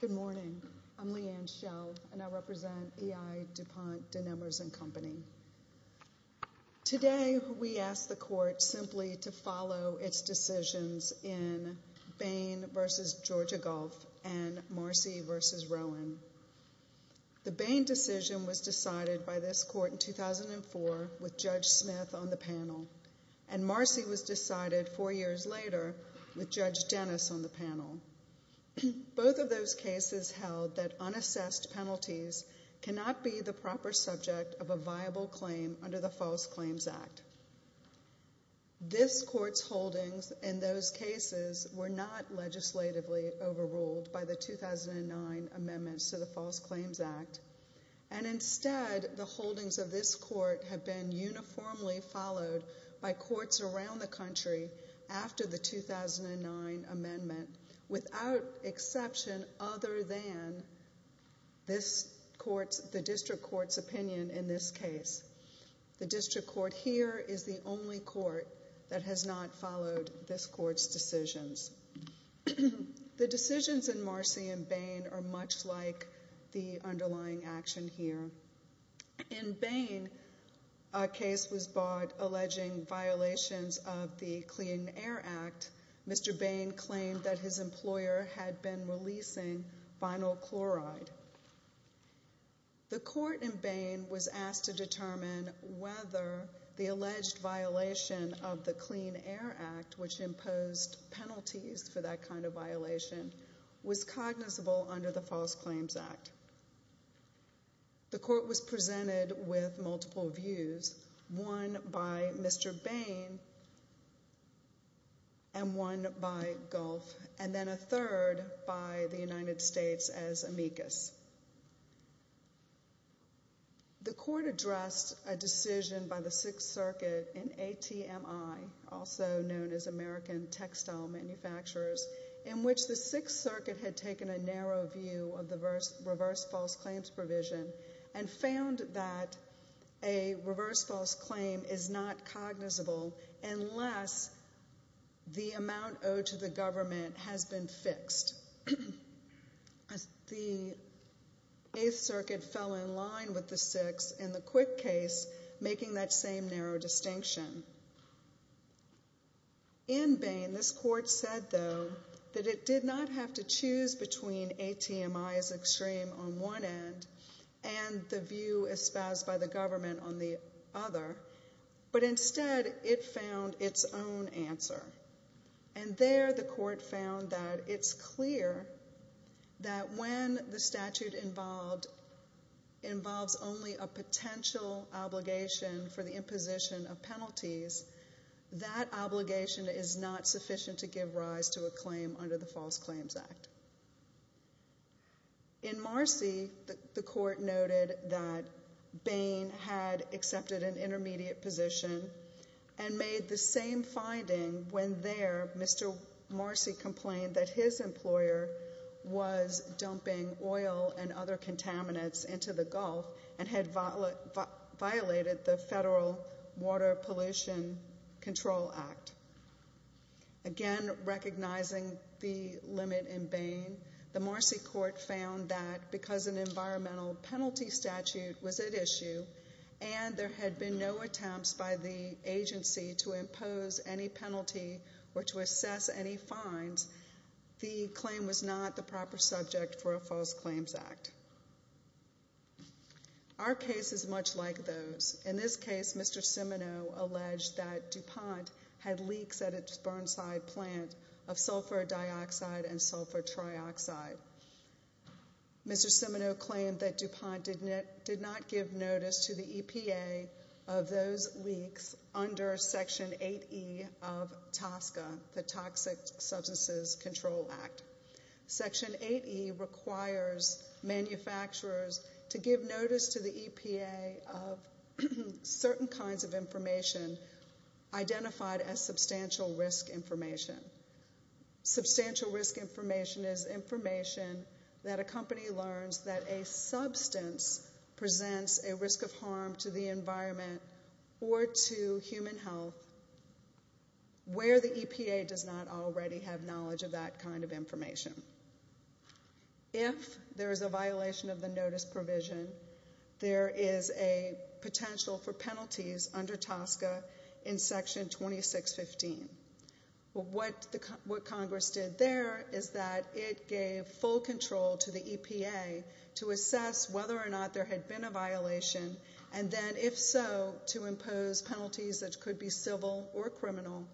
Good morning. I'm Leanne Schell and I represent E I DuPont de Nemours & Co. Today we ask the Court simply to follow its decisions in Bain v. Georgia Gulf and Marcy v. Rowan. The Bain decision was decided by this Court in 2004 with Judge Smith on the panel and Marcy was decided four years later with Judge Dennis on the panel. Both of those cases held that unassessed penalties cannot be the proper subject of a viable claim under the False Claims Act. This Court's holdings in those cases were not legislatively overruled by the 2009 amendments to the False Claims Act and instead the holdings of this Court have been uniformly followed by courts around the country after the 2009 amendment without exception other than the District Court's opinion in this case. The District Court here is the only court that has not followed this Court's decisions. The decisions in Marcy and Bain are much like the underlying action here. In Bain, a case was brought alleging violations of the Clean Air Act. Mr. Bain claimed that his employer had been releasing vinyl chloride. The Court in Bain was asked to determine whether the alleged violation of the Clean Air Act, which imposed penalties for that kind of violation, was cognizable under the False Claims Act. The Court was presented with multiple views, one by Mr. Bain and one by Gulf and then a third by the United States as amicus. The Court addressed a decision by the Sixth Circuit in ATMI, also known as American Textile Manufacturers, in which the Sixth Circuit had taken a narrow view of the reverse false claims provision and found that a reverse false claim is not cognizable unless the amount owed to the government has been fixed. The Eighth Circuit fell in line with the Sixth in the Quick case, making that same narrow distinction. In Bain, this Court said, though, that it did not have to choose between ATMI's extreme on one end and the view espoused by the government on the other, but instead it found its own answer. And there the Court found that it's clear that when the statute involves only a potential obligation for the imposition of penalties, that obligation is not sufficient to give rise to a claim under the False Claims Act. In Marcy, the Court noted that Bain had accepted an intermediate position and made the same finding when there Mr. Marcy complained that his employer was dumping oil and other contaminants into the Gulf and had violated the Federal Water Pollution Control Act. Again, recognizing the limit in Bain, the Marcy Court found that because an environmental penalty statute was at issue and there had been no attempts by the agency to impose any penalty or to assess any fines, the claim was not the proper subject for a False Claims Act. Our case is much like those. In this case, Mr. Seminoe alleged that DuPont had leaks at its Burnside plant of sulfur dioxide and sulfur trioxide. Mr. Seminoe claimed that DuPont did not give notice to the EPA of those leaks under Section 8E of TSCA, the Toxic Substances Control Act. Section 8E requires manufacturers to give notice to the EPA of certain kinds of information identified as substantial risk information. Substantial risk information is information that a company learns that a substance presents a risk of harm to the environment or to human health where the EPA does not already have knowledge of that kind of information. If there is a violation of the notice provision, there is a potential for penalties under TSCA in Section 2615. What Congress did there is that it gave full control to the EPA to assess whether or not there had been a violation and then, if so, to impose penalties that could be civil or criminal,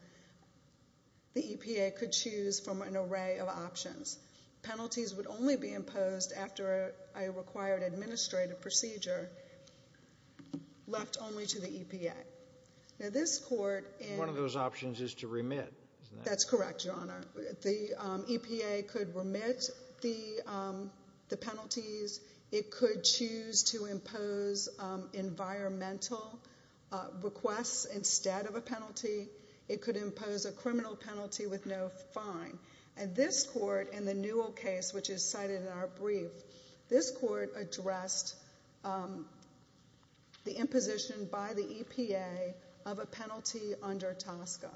the EPA could choose from an array of options. Penalties would only be imposed after a required administrative procedure left only to the EPA. Now this Court... One of those options is to remit, isn't it? That's correct, Your Honor. The EPA could remit the penalties. It could choose to impose environmental requests instead of a penalty. It could impose a criminal penalty with no fine. And this Court in the Newell case, which is cited in our brief, this Court addressed the imposition by the EPA of a penalty under TSCA.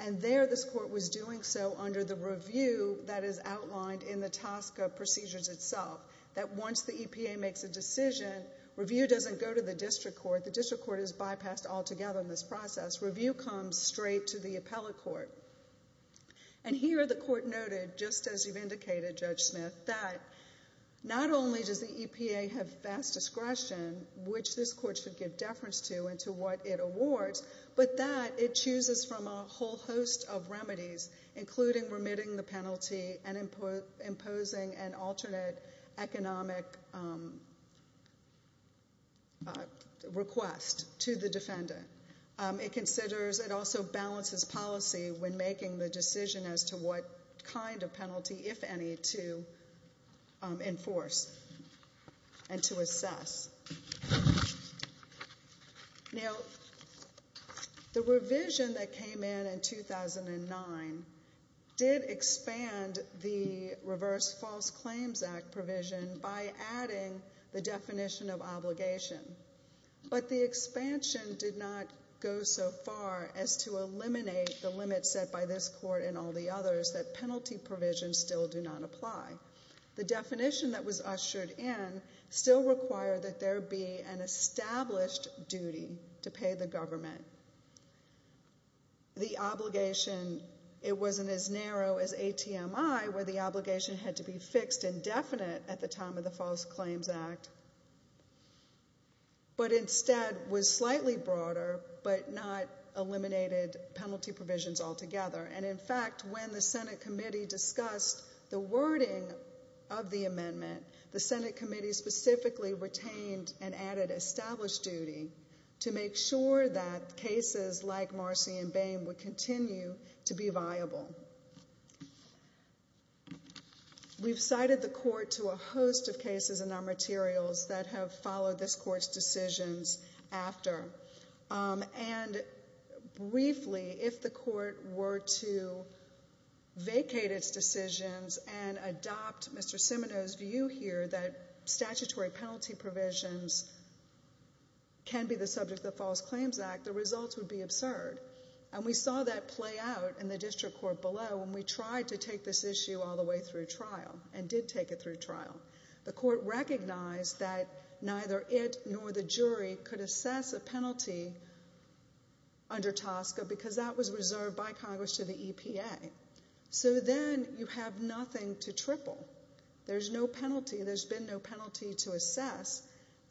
And there this Court was doing so under the review that is outlined in the TSCA procedures itself, that once the EPA makes a decision, review doesn't go to the district court. The district court is bypassed altogether in this process. Review comes straight to the appellate court. And here the Court noted, just as you've indicated, Judge Smith, that not only does the EPA have vast discretion, which this Court should give deference to and to what it awards, but that it chooses from a whole host of remedies, including remitting the penalty and imposing an alternate economic request to the defendant. It considers... It also balances policy when making the decision as to what kind of penalty, if any, to enforce and to assess. Now, the revision that came in in 2009 did expand the Reverse False Claims Act provision by adding the definition of obligation. But the expansion did not go so far as to eliminate the limits set by this Court and all the others that penalty provisions still do not apply. The definition that was ushered in still required that there be an established duty to pay the government. The obligation, it wasn't as narrow as ATMI, where the obligation had to be fixed and definite at the time of the False Claims Act, but instead was slightly broader, but not eliminated penalty provisions altogether. And in fact, when the Senate Committee discussed the wording of the amendment, the Senate Committee specifically retained and added established duty to make sure that cases like Marcy and Boehm would that have followed this Court's decisions after. And briefly, if the Court were to vacate its decisions and adopt Mr. Siminoe's view here that statutory penalty provisions can be the subject of the False Claims Act, the results would be absurd. And we saw that play out in the district court below when we recognized that neither it nor the jury could assess a penalty under TSCA because that was reserved by Congress to the EPA. So then you have nothing to triple. There's no penalty. There's been no penalty to assess.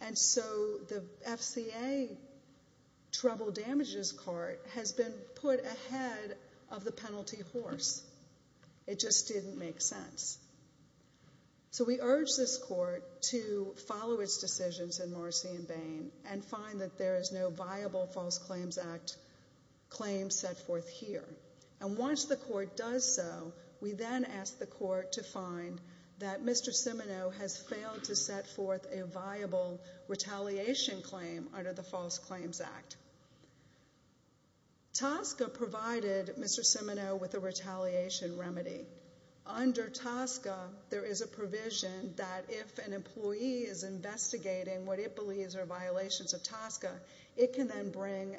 And so the FCA Trouble Damages Court has been put ahead of the penalty horse. It just didn't make sense. So we urge this Court to follow its decisions in Marcy and Boehm and find that there is no viable False Claims Act claim set forth here. And once the Court does so, we then ask the Court to find that Mr. Siminoe has failed to set forth a viable retaliation claim under the False Claims Act. TSCA provided Mr. Siminoe with a retaliation remedy. Under TSCA, there is a provision that if an employee is investigating what it believes are violations of TSCA, it can then bring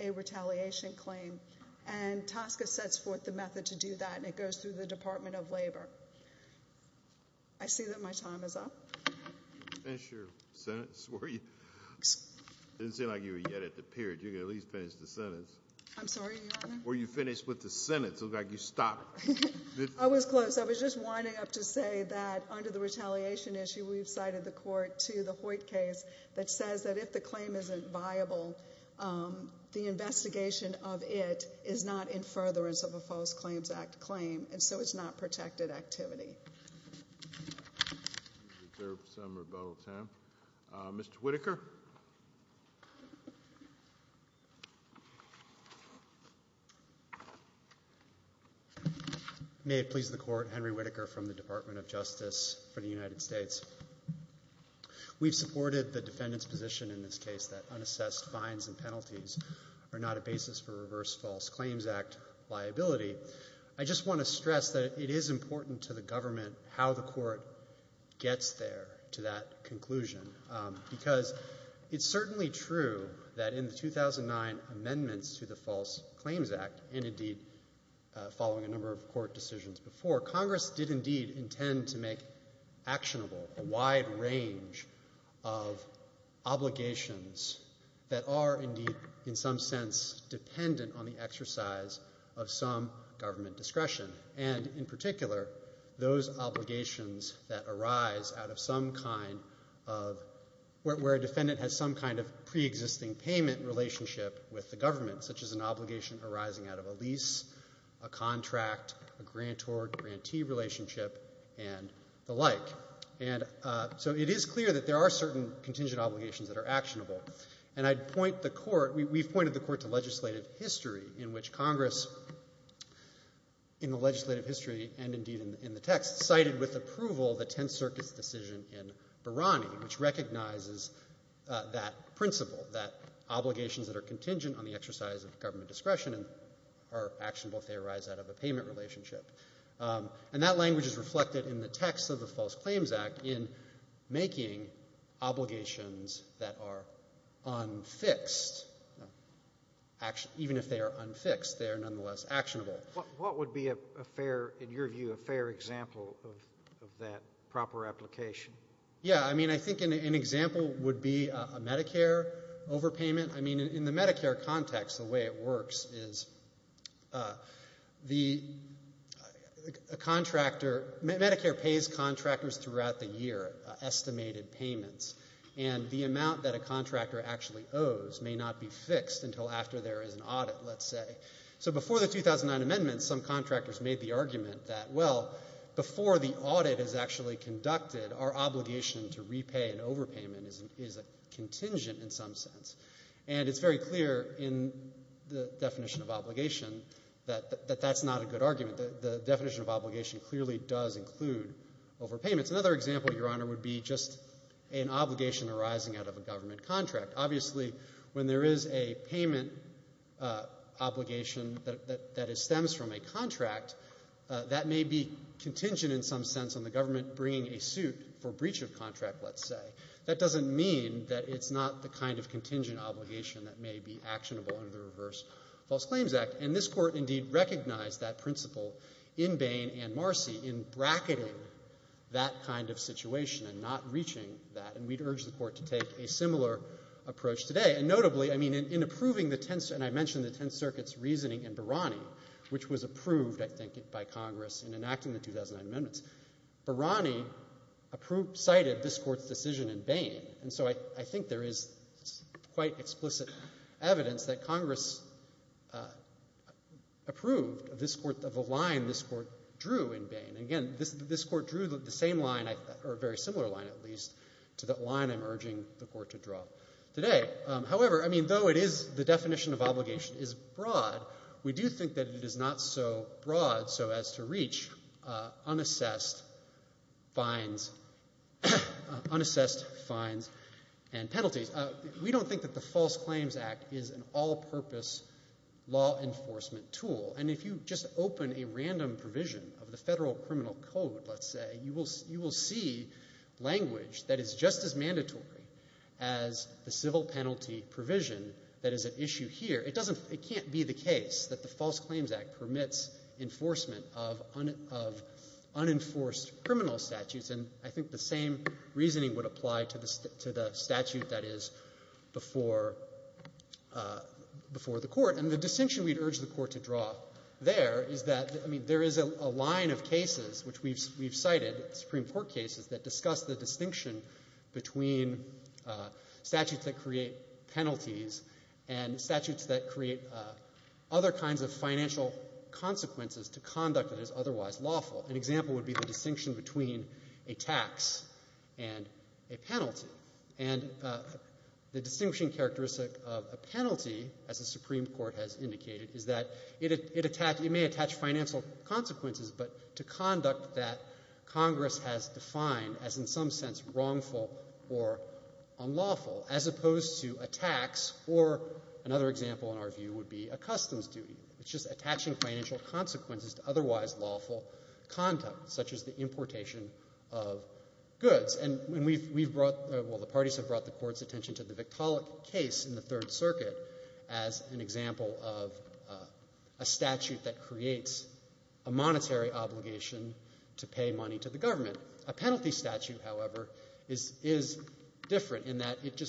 a retaliation claim. And TSCA sets forth the method to do that, and it goes through the Department of I didn't seem like you were yet at the period. You can at least finish the sentence. I'm sorry, Your Honor? Were you finished with the sentence? It looks like you stopped. I was close. I was just winding up to say that under the retaliation issue, we've cited the Court to the Hoyt case that says that if the claim isn't viable, the investigation of it is not in furtherance of a False Claims Act claim, and so it's not protected activity. Mr. Whitaker? May it please the Court, Henry Whitaker from the Department of Justice for the United States. We've supported the defendant's position in this case that unassessed fines and penalties are not a basis for reverse False Claims Act liability. I just want to stress that it is important to the government how the Court gets there to that conclusion, because it's certainly true that in the 2009 amendments to the False Claims Act, and indeed following a number of Court decisions before, Congress did indeed intend to make actionable a wide range of obligations that are indeed, in some sense, dependent on the exercise of some government discretion, and in particular, those obligations that arise where a defendant has some kind of preexisting payment relationship with the government, such as an obligation arising out of a lease, a contract, a grantor-grantee relationship, and the like. And so it is clear that there are certain contingent obligations that are actionable, and I'd point the Court to legislative history in which Congress, in the legislative history and indeed in the text, cited with approval the Tenth Circuit's decision in Barani, which recognizes that principle, that obligations that are contingent on the exercise of government discretion are actionable if they arise out of a payment relationship. And that language is reflected in the text of the Act, even if they are unfixed, they are nonetheless actionable. What would be a fair, in your view, a fair example of that proper application? Yeah, I mean, I think an example would be a Medicare overpayment. I mean, in the Medicare context, the way it works is the contractor, Medicare pays contractors throughout the year estimated payments, and the amount that a contractor actually owes may not be fixed until after there is an audit, let's say. So before the 2009 amendments, some contractors made the argument that, well, before the audit is actually conducted, our obligation to repay an overpayment is a contingent in some sense. And it's very clear in the definition of obligation that that's not a good argument. The definition of obligation clearly does include overpayments. Another example, Your Honor, would be just an obligation arising out of a government contract. Obviously, when there is a payment obligation that stems from a contract, that may be contingent in some sense on the government bringing a suit for breach of contract, let's say. That doesn't mean that it's not the kind of contingent obligation that may be actionable under the Reverse False Claims Act. And this Court indeed recognized that principle in Bain and Marcy in bracketing that kind of situation and not reaching that. And we'd urge the Court to take a similar approach today. And notably, I mean, in approving the 10th, and I mentioned the 10th Circuit's reasoning in Barani, which was approved, I think, by Congress in enacting the 2009 amendments. Barani cited this Court's decision in Bain. And so I think there is quite explicit evidence that Congress approved this Court of a line this Court drew in Bain. And again, this Court drew the same line, or a very similar line at least, to that line I'm urging the Court to draw today. However, I mean, though it is the definition of obligation is broad, we do think that it is not so broad so as to reach unassessed fines and penalties. We don't think that the False Claims Act is an all-purpose law enforcement tool. And if you just open a random provision of the Federal Criminal Code, let's say, you will see language that is just as mandatory as the civil penalty provision that is at issue here. It can't be the case that the False Claims Act permits enforcement of unenforced criminal statutes. And I think the reasoning would apply to the statute that is before the Court. And the distinction we'd urge the Court to draw there is that, I mean, there is a line of cases which we've cited, Supreme Court cases, that discuss the distinction between statutes that create penalties and statutes that create other kinds of financial consequences to conduct that is otherwise a tax and a penalty. And the distinguishing characteristic of a penalty, as the Supreme Court has indicated, is that it may attach financial consequences, but to conduct that Congress has defined as in some sense wrongful or unlawful, as opposed to a tax or another example in our view would be a customs duty. It's just attaching financial consequences to otherwise lawful conduct, such as the importation of goods. And we've brought, well, the parties have brought the Court's attention to the Victaulic case in the Third Circuit as an example of a statute that creates a monetary obligation to pay money to the government. A penalty statute, however, is different in that it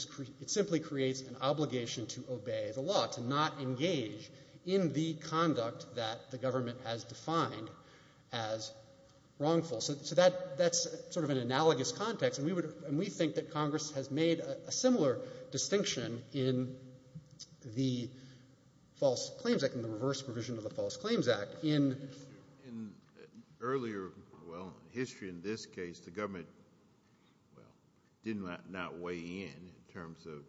simply creates an obligation to obey the law, to not engage in the conduct that the government has defined as wrongful. So that's sort of an analogous context, and we think that Congress has made a similar distinction in the False Claims Act, in the reverse provision of the False Claims Act. In earlier, well, history in this case, the government, well, did not weigh in in terms of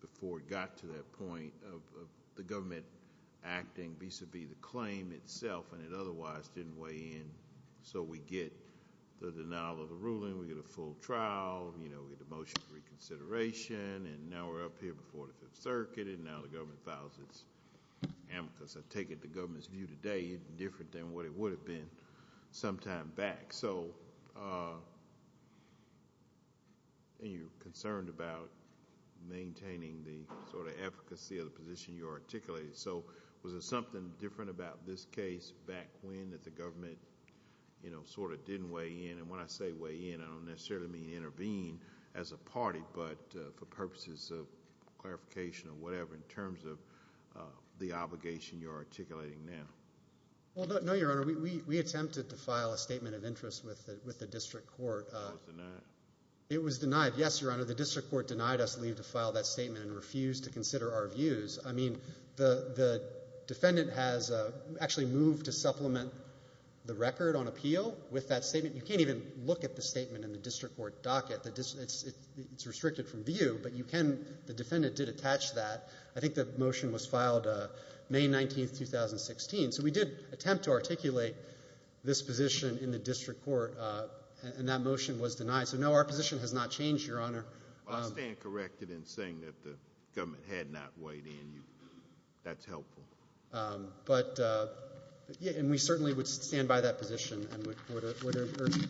before it got to that point of the government acting vis-a-vis the claim itself, and it otherwise didn't weigh in. So we get the denial of the ruling, we get a full trial, you know, we get the motion for reconsideration, and now we're up here before the Fifth Circuit, and now the government files its amicus. I take it the government's view today is different than what it would have been some time back. So, and you're concerned about maintaining the sort of efficacy of the position you articulated. So, was there something different about this case back when that the government, you know, sort of didn't weigh in? And when I say weigh in, I don't necessarily mean intervene as a party, but for purposes of clarification or whatever, in terms of the obligation you're talking about. Well, no, Your Honor, we attempted to file a statement of interest with the district court. It was denied? It was denied, yes, Your Honor. The district court denied us leave to file that statement and refused to consider our views. I mean, the defendant has actually moved to supplement the record on appeal with that statement. You can't even look at the statement in the district court docket. It's restricted from view, but you can, the defendant did attach that. I think the motion was filed May 19th, 2016. So, we did attempt to articulate this position in the district court, and that motion was denied. So, no, our position has not changed, Your Honor. Well, I stand corrected in saying that the government had not weighed in. That's helpful. But yeah, and we certainly would stand by that position and would urge the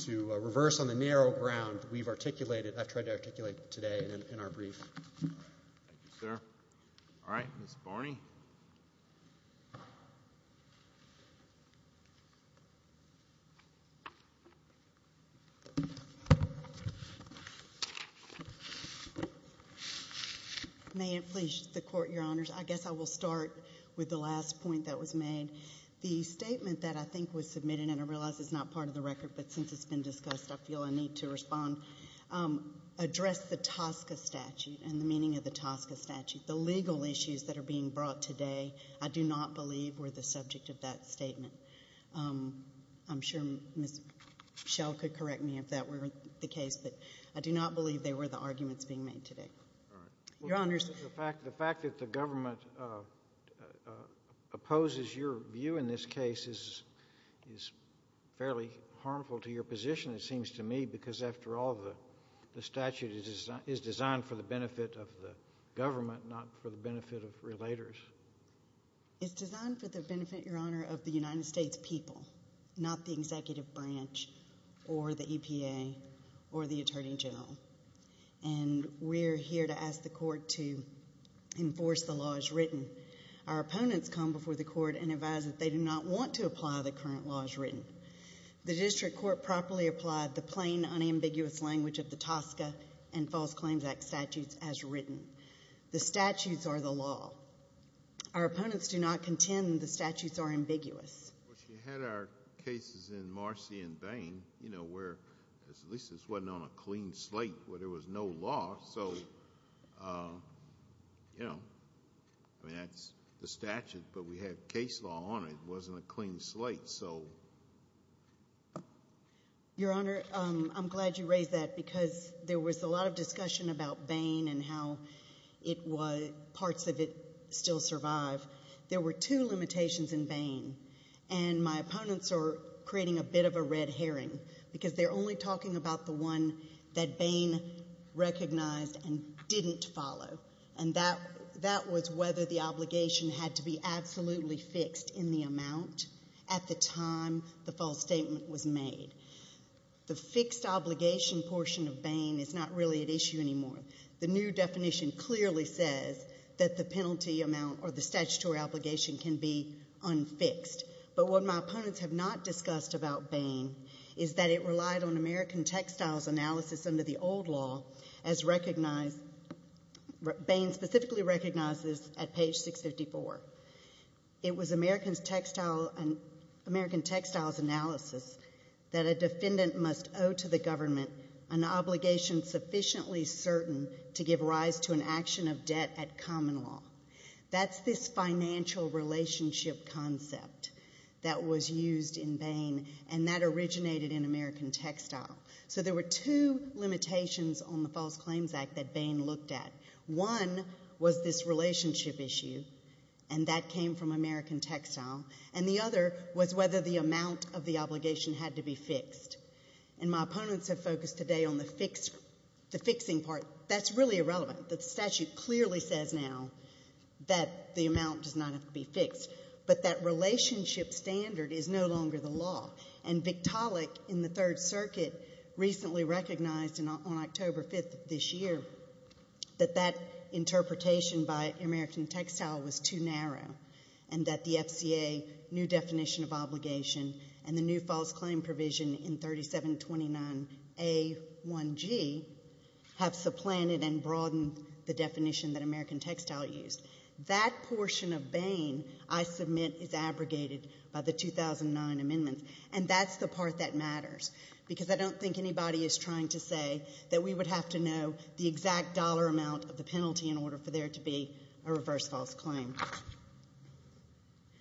court to reverse on the narrow ground we've articulated, I've tried to articulate today in our brief. Thank you, sir. All right, Ms. Barney. May it please the court, Your Honors, I guess I will start with the last point that was made. The statement that I think was submitted, and I realize it's not part of the record, but since it's been discussed, I feel a need to respond, address the TSCA statute and the meaning of the TSCA statute. The legal issues that are being brought today, I do not believe were the subject of that statement. I'm sure Ms. Schell could correct me if that were the case, but I do not believe they were the arguments being made today. Your Honors. The fact that the government opposes your view in this case is fairly harmful to your position, it seems to me, because after all, the statute is designed for the benefit of the government, not for the benefit of relators. It's designed for the benefit, Your Honor, of the United States people, not the executive branch or the EPA or the Attorney General. And we're here to ask the court to enforce the laws written. Our opponents come before the court and advise that they do not want to apply the current laws written. The district court properly applied the plain, unambiguous language of the TSCA and False Claims Act statutes as written. The statutes are the law. Our opponents do not contend the statutes are ambiguous. Well, she had our cases in Marcy and Bain, where at least this wasn't on a clean slate, where there was no law. So, you know, I mean, that's the statute, but we had case law on it. It wasn't a clean slate, so. Your Honor, I'm glad you raised that because there was a lot of discussion about Bain and how it was, parts of it still survive. There were two limitations in Bain and my opponents are creating a bit of a red herring because they're only talking about the one that Bain recognized and didn't follow. And that was whether the obligation had to be absolutely fixed in the amount at the time the false statement was made. The fixed obligation portion of Bain is not really at issue anymore. The new definition clearly says that the penalty amount or the statutory obligation can be unfixed. But what my opponents have not discussed about American textiles analysis under the old law as recognized, Bain specifically recognizes at page 654. It was American textiles analysis that a defendant must owe to the government an obligation sufficiently certain to give rise to an action of debt at common law. That's this financial relationship concept that was used in Bain and that originated in American textile. So there were two limitations on the False Claims Act that Bain looked at. One was this relationship issue and that came from American textile. And the other was whether the amount of the obligation had to be fixed. And my opponents have focused today on the fixed, the fixing part. That's really irrelevant. The statute clearly says now that the amount does not have to be fixed. But that relationship standard is no longer the law. And Victaulic in the Third Circuit recently recognized on October 5th this year that that interpretation by American textile was too narrow and that the FCA new definition of obligation and the new false claim provision in 3729A1G have supplanted and broadened the definition that American textile used. That portion of Bain I submit is abrogated by the 2009 amendments. And that's the part that matters because I don't think anybody is trying to say that we would have to know the exact dollar amount of the penalty in order for there to be a reverse false claim.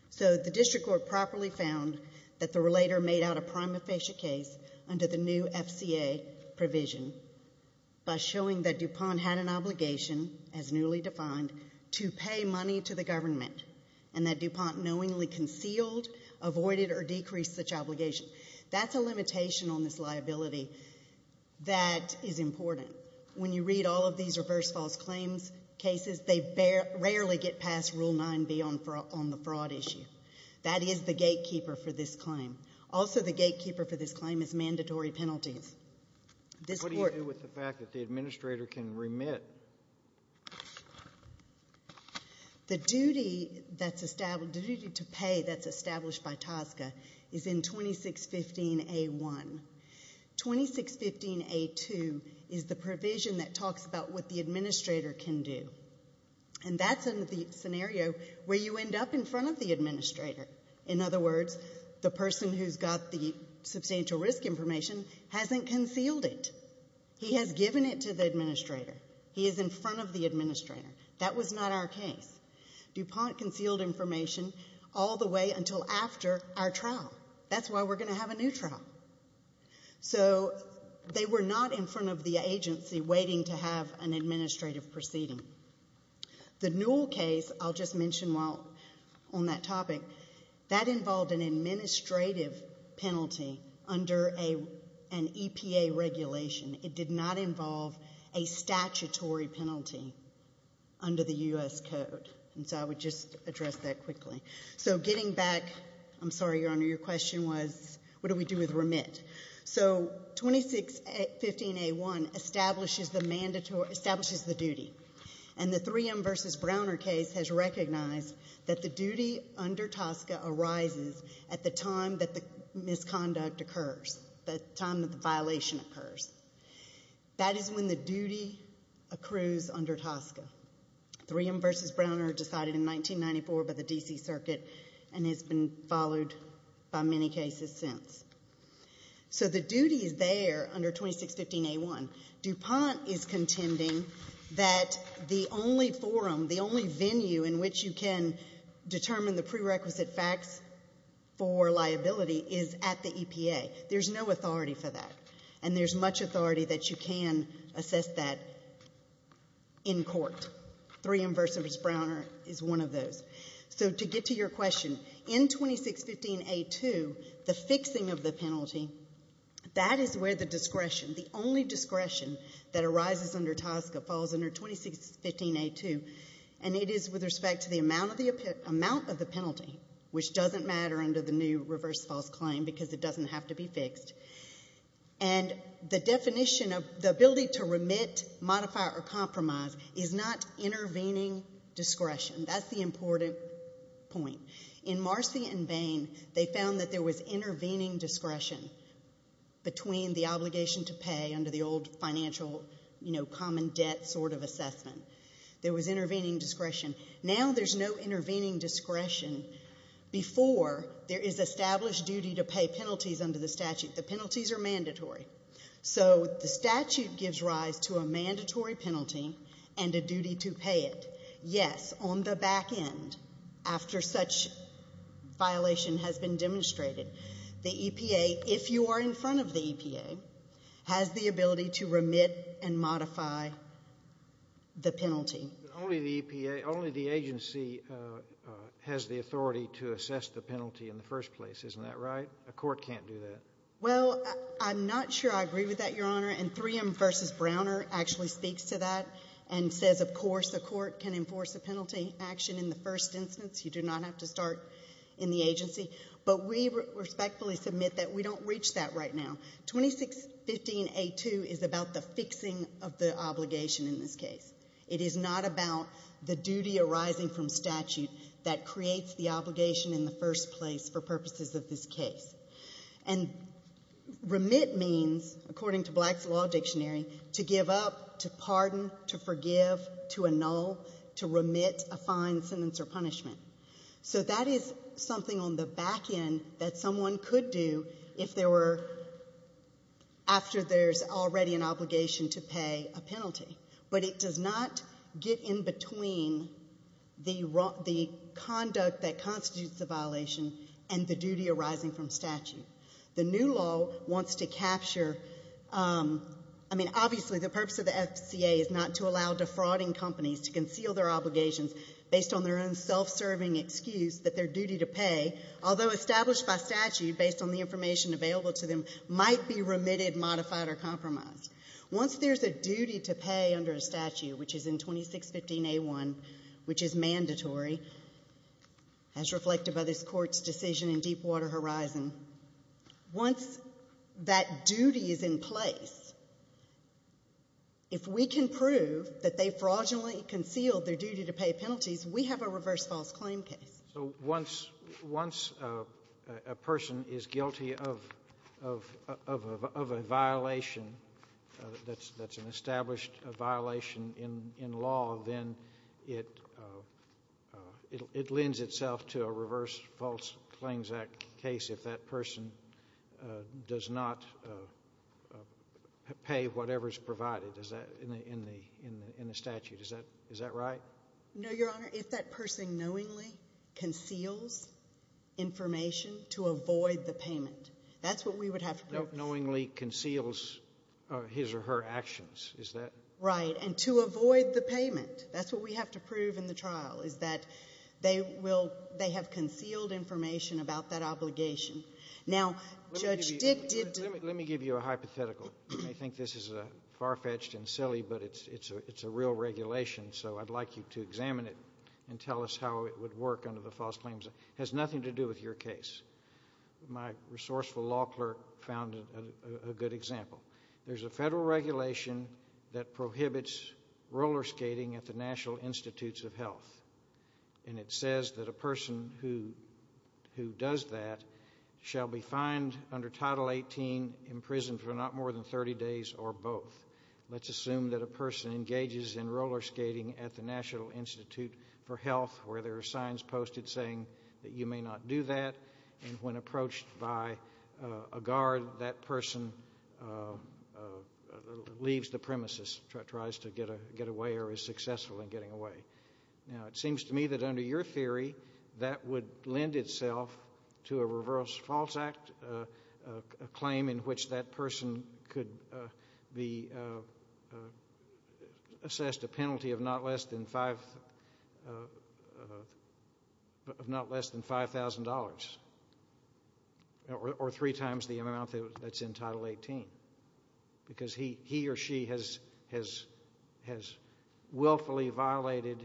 So the District Court properly found that the relator made out a prima facie case under the new FCA provision by showing that DuPont had an obligation, as newly defined, to pay money to the government and that DuPont knowingly concealed, avoided, or decreased such obligation. That's a limitation on this liability that is important. When you read all of these reverse false claims cases, they rarely get past Rule 9B on the fraud issue. That is the gatekeeper for this claim. Also the gatekeeper for this claim is mandatory penalties. What do you do with the fact that the administrator can remit? The duty to pay that's established by TSCA is in 2615A1. 2615A2 is the provision that talks about what the administrator can do. And that's in the scenario where you end up in front of the administrator. The person who's got the substantial risk information hasn't concealed it. He has given it to the administrator. He is in front of the administrator. That was not our case. DuPont concealed information all the way until after our trial. That's why we're going to have a new trial. So they were not in front of the agency waiting to have an administrative proceeding. The Newell case, I'll just mention while on that topic, that involved an administrative penalty under an EPA regulation. It did not involve a statutory penalty under the U.S. Code. And so I would just address that quickly. So getting back, I'm sorry Your Honor, your question was what do we do with remit? So 2615A1 establishes the mandatory, establishes the duty. And the Threum v. Browner case has recognized that the duty under TSCA arises at the time that the misconduct occurs, the time that the violation occurs. That is when the duty accrues under TSCA. Threum v. Browner decided in 1994 by the D.C. Circuit and has been followed by many cases since. So the duty is there under 2615A1. DuPont is contending that the only forum, the only venue in which you can determine the prerequisite facts for liability is at the EPA. There's no authority for that. And there's much authority that you can assess that in court. Threum v. Browner is one of those. So to get to your question, in 2615A2, the fixing of the penalty, that is where the discretion, the only discretion that arises under TSCA falls under 2615A2. And it is with respect to the amount of the penalty, which doesn't matter under the new reverse false claim because it doesn't have to be fixed. And the definition of the ability to remit, modify, or compromise is not intervening discretion. That's the important point. In Marcy v. Bain, they found that there was intervening discretion between the obligation to pay under the old financial, you know, common debt sort of assessment. There was intervening discretion. Now there's no intervening discretion before there is established duty to pay penalties under the statute. The penalties are mandatory. So the statute gives rise to a mandatory penalty and a duty to pay it. Yes, on the back end, after such violation has been demonstrated, the EPA, if you are in front of the EPA, has the ability to remit and modify the penalty. Only the EPA, only the agency has the authority to assess the penalty in the first place. Isn't that right? A court can't do that. Well, I'm not sure I agree with that, Your Honor. And 3M v. Browner actually speaks to that and says, of course, the court can enforce a penalty action in the first instance. You do not have to start in the agency. But we respectfully submit that we don't reach that right now. 2615A2 is about the fixing of the obligation in this case. It is not about the duty arising from statute that creates the obligation in the first place for purposes of this case. And remit means, according to Black's Law Dictionary, to give up, to pardon, to forgive, to annul, to remit a fine, sentence, or punishment. So that is something on the back end that someone could do if there were, after there's already an obligation to pay a penalty. But it does not get in between the conduct that constitutes the violation and the duty arising from statute. The new law wants to capture, I mean, obviously the purpose of the FCA is not to allow defrauding companies to conceal their obligations based on their own self-serving excuse that their duty to pay, although established by statute based on the information available to them, might be remitted, modified, or compromised. Once there's a duty to pay under a statute, which is in 2615A1, which is mandatory, as reflected by this Court's decision in Deepwater Horizon, once that duty is in place, if we can prove that they fraudulently concealed their duty to pay penalties, we have a reverse false claim case. So once a person is guilty of a violation that's an established violation in law, then it lends itself to a reverse false claims case if that person does not pay whatever is provided in the statute. Is that right? No, Your Honor. If that person knowingly conceals information to avoid the payment, that's what we would have to prove. Knowingly conceals his or her actions, is that? Right. And to avoid the payment. That's what we have to prove in the trial, is that they will, they have concealed information about that obligation. Now, Judge Dick did— I would like to examine it and tell us how it would work under the false claims. It has nothing to do with your case. My resourceful law clerk found a good example. There's a federal regulation that prohibits roller skating at the National Institutes of Health. And it says that a person who does that shall be fined under Title 18, imprisoned for not more than 30 days or both. Let's assume that a person engages in roller skating at the National Institute for Health where there are signs posted saying that you may not do that, and when approached by a guard, that person leaves the premises, tries to get away or is successful in getting away. Now, it seems to me that under your theory, that would lend itself to a reverse false act, a claim in which that person could be assessed a penalty of not less than $5,000 or three times the amount that's in Title 18. Because he or she has willfully violated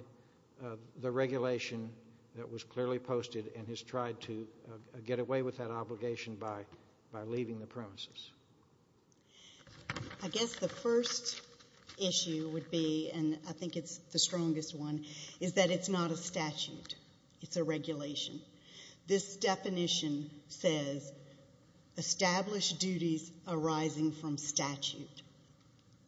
the regulation that was clearly posted and has tried to get away with that obligation by leaving the premises. I guess the first issue would be, and I think it's the strongest one, is that it's not a statute. It's a regulation. This definition says establish duties arising from statute.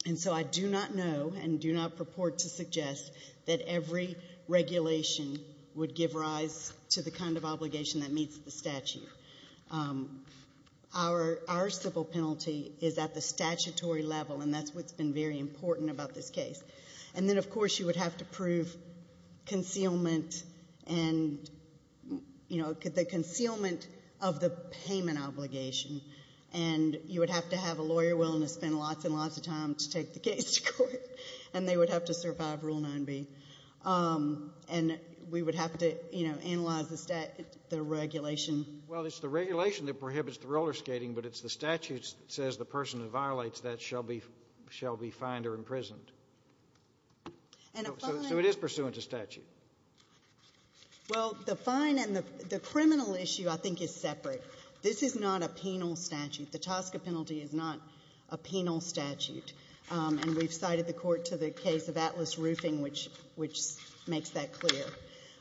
And so I do not know and do not purport to suggest that every regulation would give rise to the kind of obligation that meets the statute. Our civil penalty is at the statutory level, and that's what's been very important about this case. And then, of course, you would have to prove concealment and the concealment of the payment obligation. And you would have to have a lawyer willing to spend lots and lots of time to take the case to court, and they would have to survive Rule 9b. And we would have to analyze the regulation. Well, it's the regulation that prohibits the roller skating, but it's the statute that says the person who violates that shall be fined or imprisoned. So it is pursuant to statute. Well, the fine and the criminal issue, I think, is separate. This is not a penal statute. The TSCA penalty is not a penal statute. And we've cited the court to the case of Atlas Roofing, which makes that clear.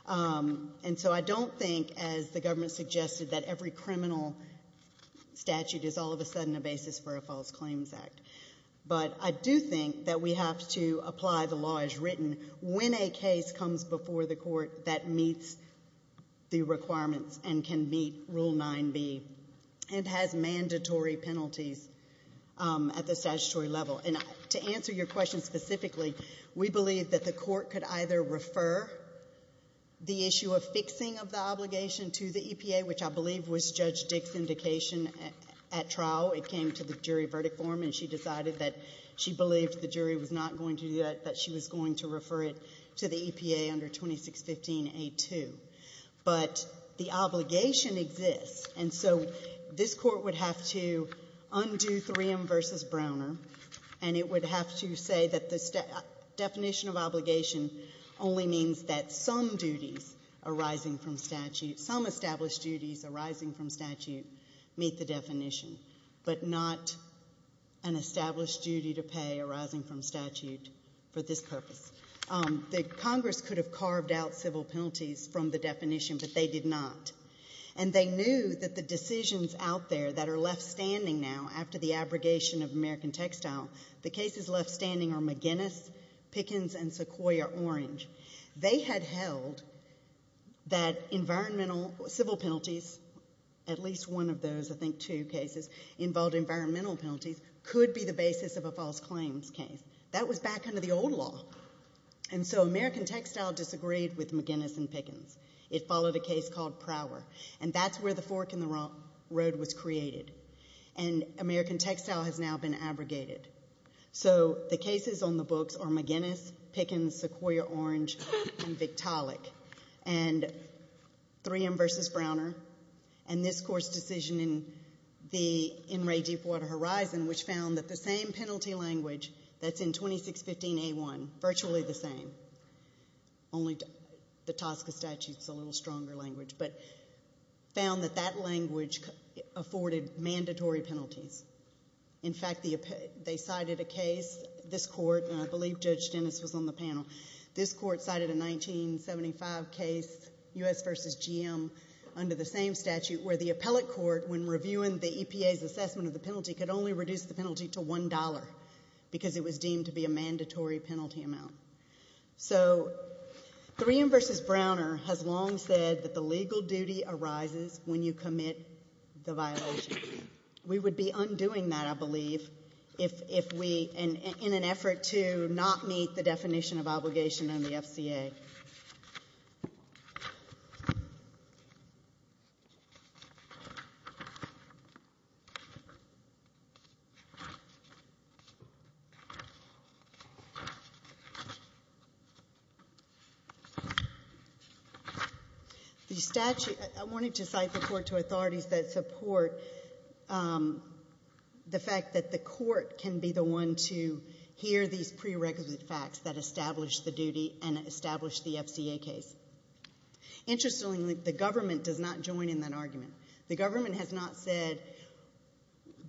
And so I don't think, as the government suggested, that every criminal statute is all of a sudden a basis for a false claims act. But I do think that we have to apply the law as written when a case comes before the court that meets the requirements and can meet Rule 9b and has mandatory penalties at the statutory level. And to answer your question specifically, we believe that the court could either refer the issue of fixing of the obligation to the EPA, which I believe was Judge Dick's indication at trial. It came to the jury verdict form, and she decided that she believed the jury was not going to do that, that she was going to refer it to the EPA under 2615A2. But the obligation exists. And so this court would have to undo Threum v. Browner, and it would have to say that the definition of obligation only means that some duties arising from statute, some established duties arising from statute, meet the definition, but not an established duty to pay arising from statute for this purpose. The Congress could have carved out civil penalties from the definition, but they did not. And they knew that the decisions out there that are left standing now after the abrogation of American Textile, the cases left standing are McGinnis, Pickens, and Sequoyah-Orange. They had held that environmental civil penalties, at least one of those, I think two cases, involved environmental penalties, could be the basis of a false claims case. That was back under the old law. And so American Textile disagreed with McGinnis and Pickens. It followed a case called Prower. And that's where the fork in the road was created. And American Textile has now been abrogated. So the cases on the books are McGinnis, Pickens, Sequoyah-Orange, and Victaulic. And Threum v. Browner, and this court's decision in Ray Deepwater Horizon, which found that the same penalty language that's in 2615A1, virtually the same, only the TSCA statute's a little stronger language, but found that that language afforded mandatory penalties. In fact, they cited a case, this court, and I believe Judge Dennis was on the panel, this court cited a 1975 case, U.S. v. GM, under the same statute, where the appellate court, when reviewing the EPA's assessment of the penalty, could only reduce the penalty to $1 because it was deemed to be a mandatory penalty amount. So Threum v. Browner has long said that the legal duty arises when you commit the violation. We would be undoing that, I believe, if we, in an effort to not meet the definition of obligation under the FCA. Thank you. The statute, I wanted to cite the court to authorities that support the fact that the court can be the one to hear these prerequisite facts that establish the duty and establish the FCA case. Interestingly, the government does not join in that argument. The government has not said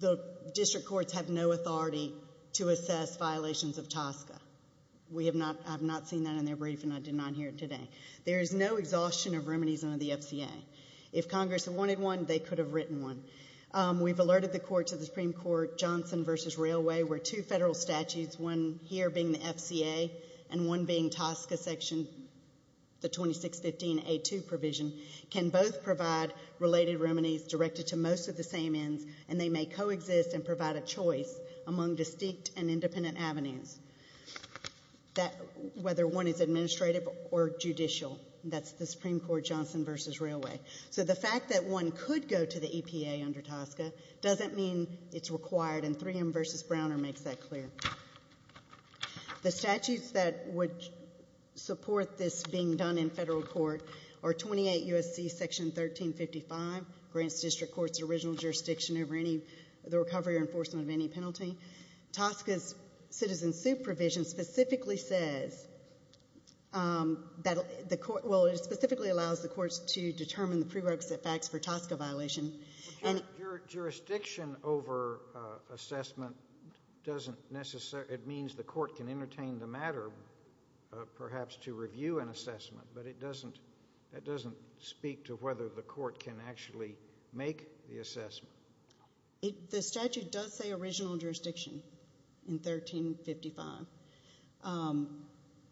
the district courts have no authority to assess violations of TSCA. I have not seen that in their brief, and I did not hear it today. There is no exhaustion of remedies under the FCA. If Congress had wanted one, they could have written one. We have alerted the court to the Supreme Court Johnson v. Railway, where two federal statutes, one here being the FCA and one being TSCA section, the 2615A2 provision, can both provide related remedies directed to most of the same ends, and they may coexist and provide a choice among distinct and independent avenues, whether one is administrative or judicial. That is the Supreme Court Johnson v. Railway. So the fact that one could go to the EPA under TSCA doesn't mean it's required, and 3M v. Browner makes that clear. The statutes that would support this being done in federal court are 28 U.S.C. section 1355, grants district courts original jurisdiction over the recovery or enforcement of any penalty. TSCA's citizen supervision specifically says that the court, well, it specifically allows the courts to determine the prerequisite facts for TSCA violation. Jurisdiction over assessment doesn't necessarily, it means the court can entertain the matter perhaps to review an assessment, but it doesn't speak to whether the court can actually make the assessment. The statute does say original jurisdiction in 1355,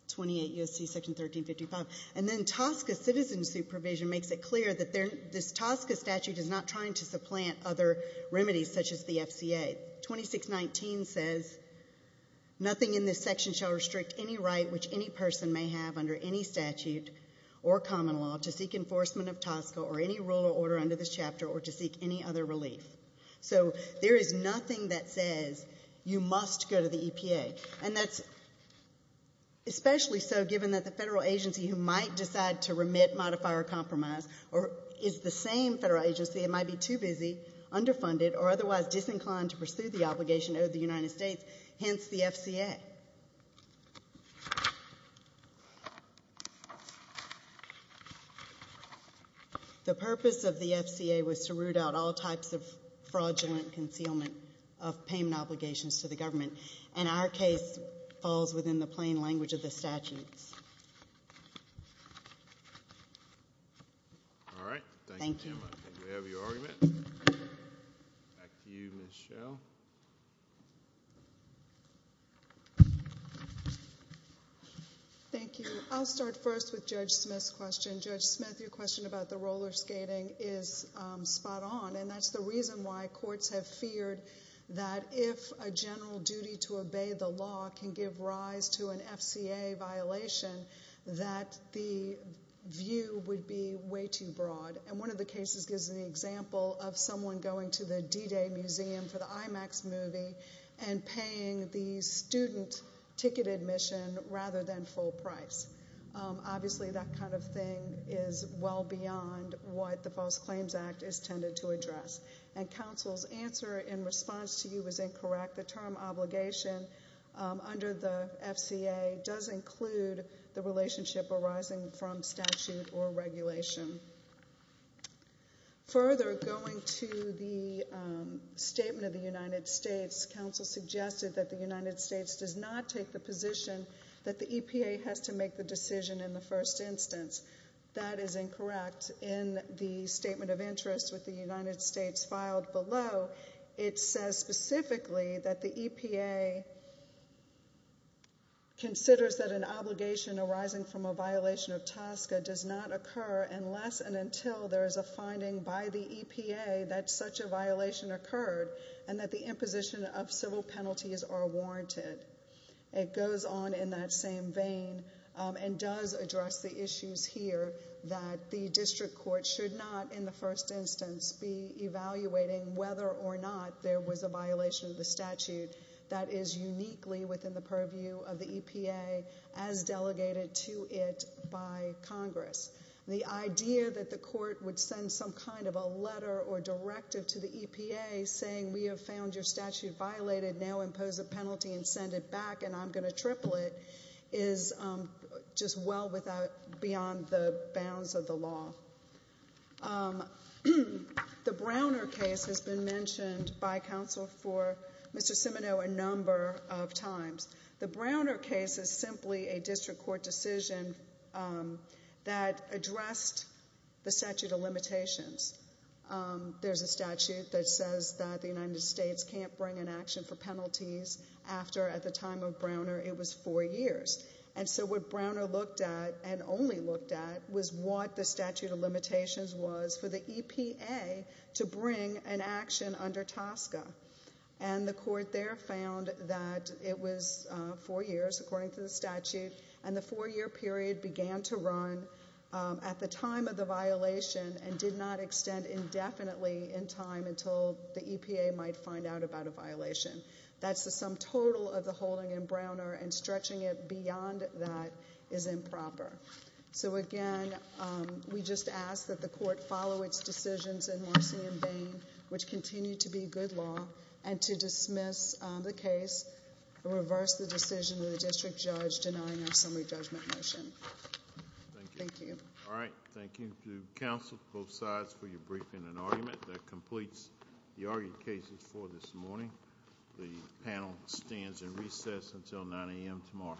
28 U.S.C. section 1355, and then TSCA citizen supervision makes it clear that this TSCA statute is not trying to supplant other remedies such as the FCA. 2619 says nothing in this section shall restrict any right which any person may have under any statute or common law to seek enforcement of TSCA or any rule or order under this chapter or to seek any other relief. So there is nothing that says you must go to the EPA, and that's especially so given that the federal agency who might decide to remit, modify, or compromise, or is the same federal agency, it might be too busy, underfunded, or otherwise disinclined to pursue the obligation owed to the United States, hence the FCA. The purpose of the FCA was to root out all types of fraudulent concealment of payment obligations to the government, and our case falls within the plain language of the statutes. All right. Thank you. Thank you, Jim. I think we have your argument. Back to you, Ms. Schell. Thank you. I'll start first with Judge Smith's question. Judge Smith, your question about the roller skating is spot on, and that's the reason why courts have feared that if a general duty to obey the law can give rise to an FCA violation, that the view would be way too broad, and one of the cases gives an example of someone going to the D-Day Museum for the IMAX movie and paying the student ticket admission rather than full price. Obviously, that kind of thing is well beyond what the False Claims Act is tended to address, and counsel's answer in response to you is incorrect. The term obligation under the FCA does include the relationship arising from statute or regulation. Further, going to the statement of the United States, counsel suggested that the United States does not take the position that the EPA has to make the decision in the first instance. That is incorrect. In the statement of interest with the United States filed below, it says specifically that the EPA considers that an obligation arising from a violation of TSCA does not occur unless and until there is a finding by the EPA that such a violation occurred and that the imposition of civil penalties are warranted. It goes on in that same vein and does address the issues here that the district court should not in the first instance be evaluating whether or not there was a violation of the statute that is uniquely within the purview of the EPA as delegated to it by Congress. The idea that the court would send some kind of a letter or directive to the EPA saying, we have found your statute violated, now impose a penalty and send it back and I'm going to triple it, is just well beyond the bounds of the law. The Browner case has been mentioned by counsel for Mr. Simoneau a number of times. The Browner case is simply a district court decision that addressed the statute of limitations. There's a statute that says that the United States can't bring an action for penalties after at the time of Browner it was four years. And so what Browner looked at and only looked at was what the statute of limitations was for the EPA to bring an action under TSCA. And the court there found that it was four years according to the statute and the four year period began to run at the time of the violation and did not extend indefinitely in time until the EPA might find out about a violation. That's the sum total of the holding in Browner and stretching it beyond that is improper. So again, we just ask that the court follow its decisions in Marcy and Bain, which continue to be good law, and to dismiss the case and reverse the decision of the district judge denying our summary judgment motion. Thank you. Thank you. All right. Thank you to counsel both sides for your briefing and argument that completes the argued cases for this morning. The panel stands in recess until 9 a.m. tomorrow.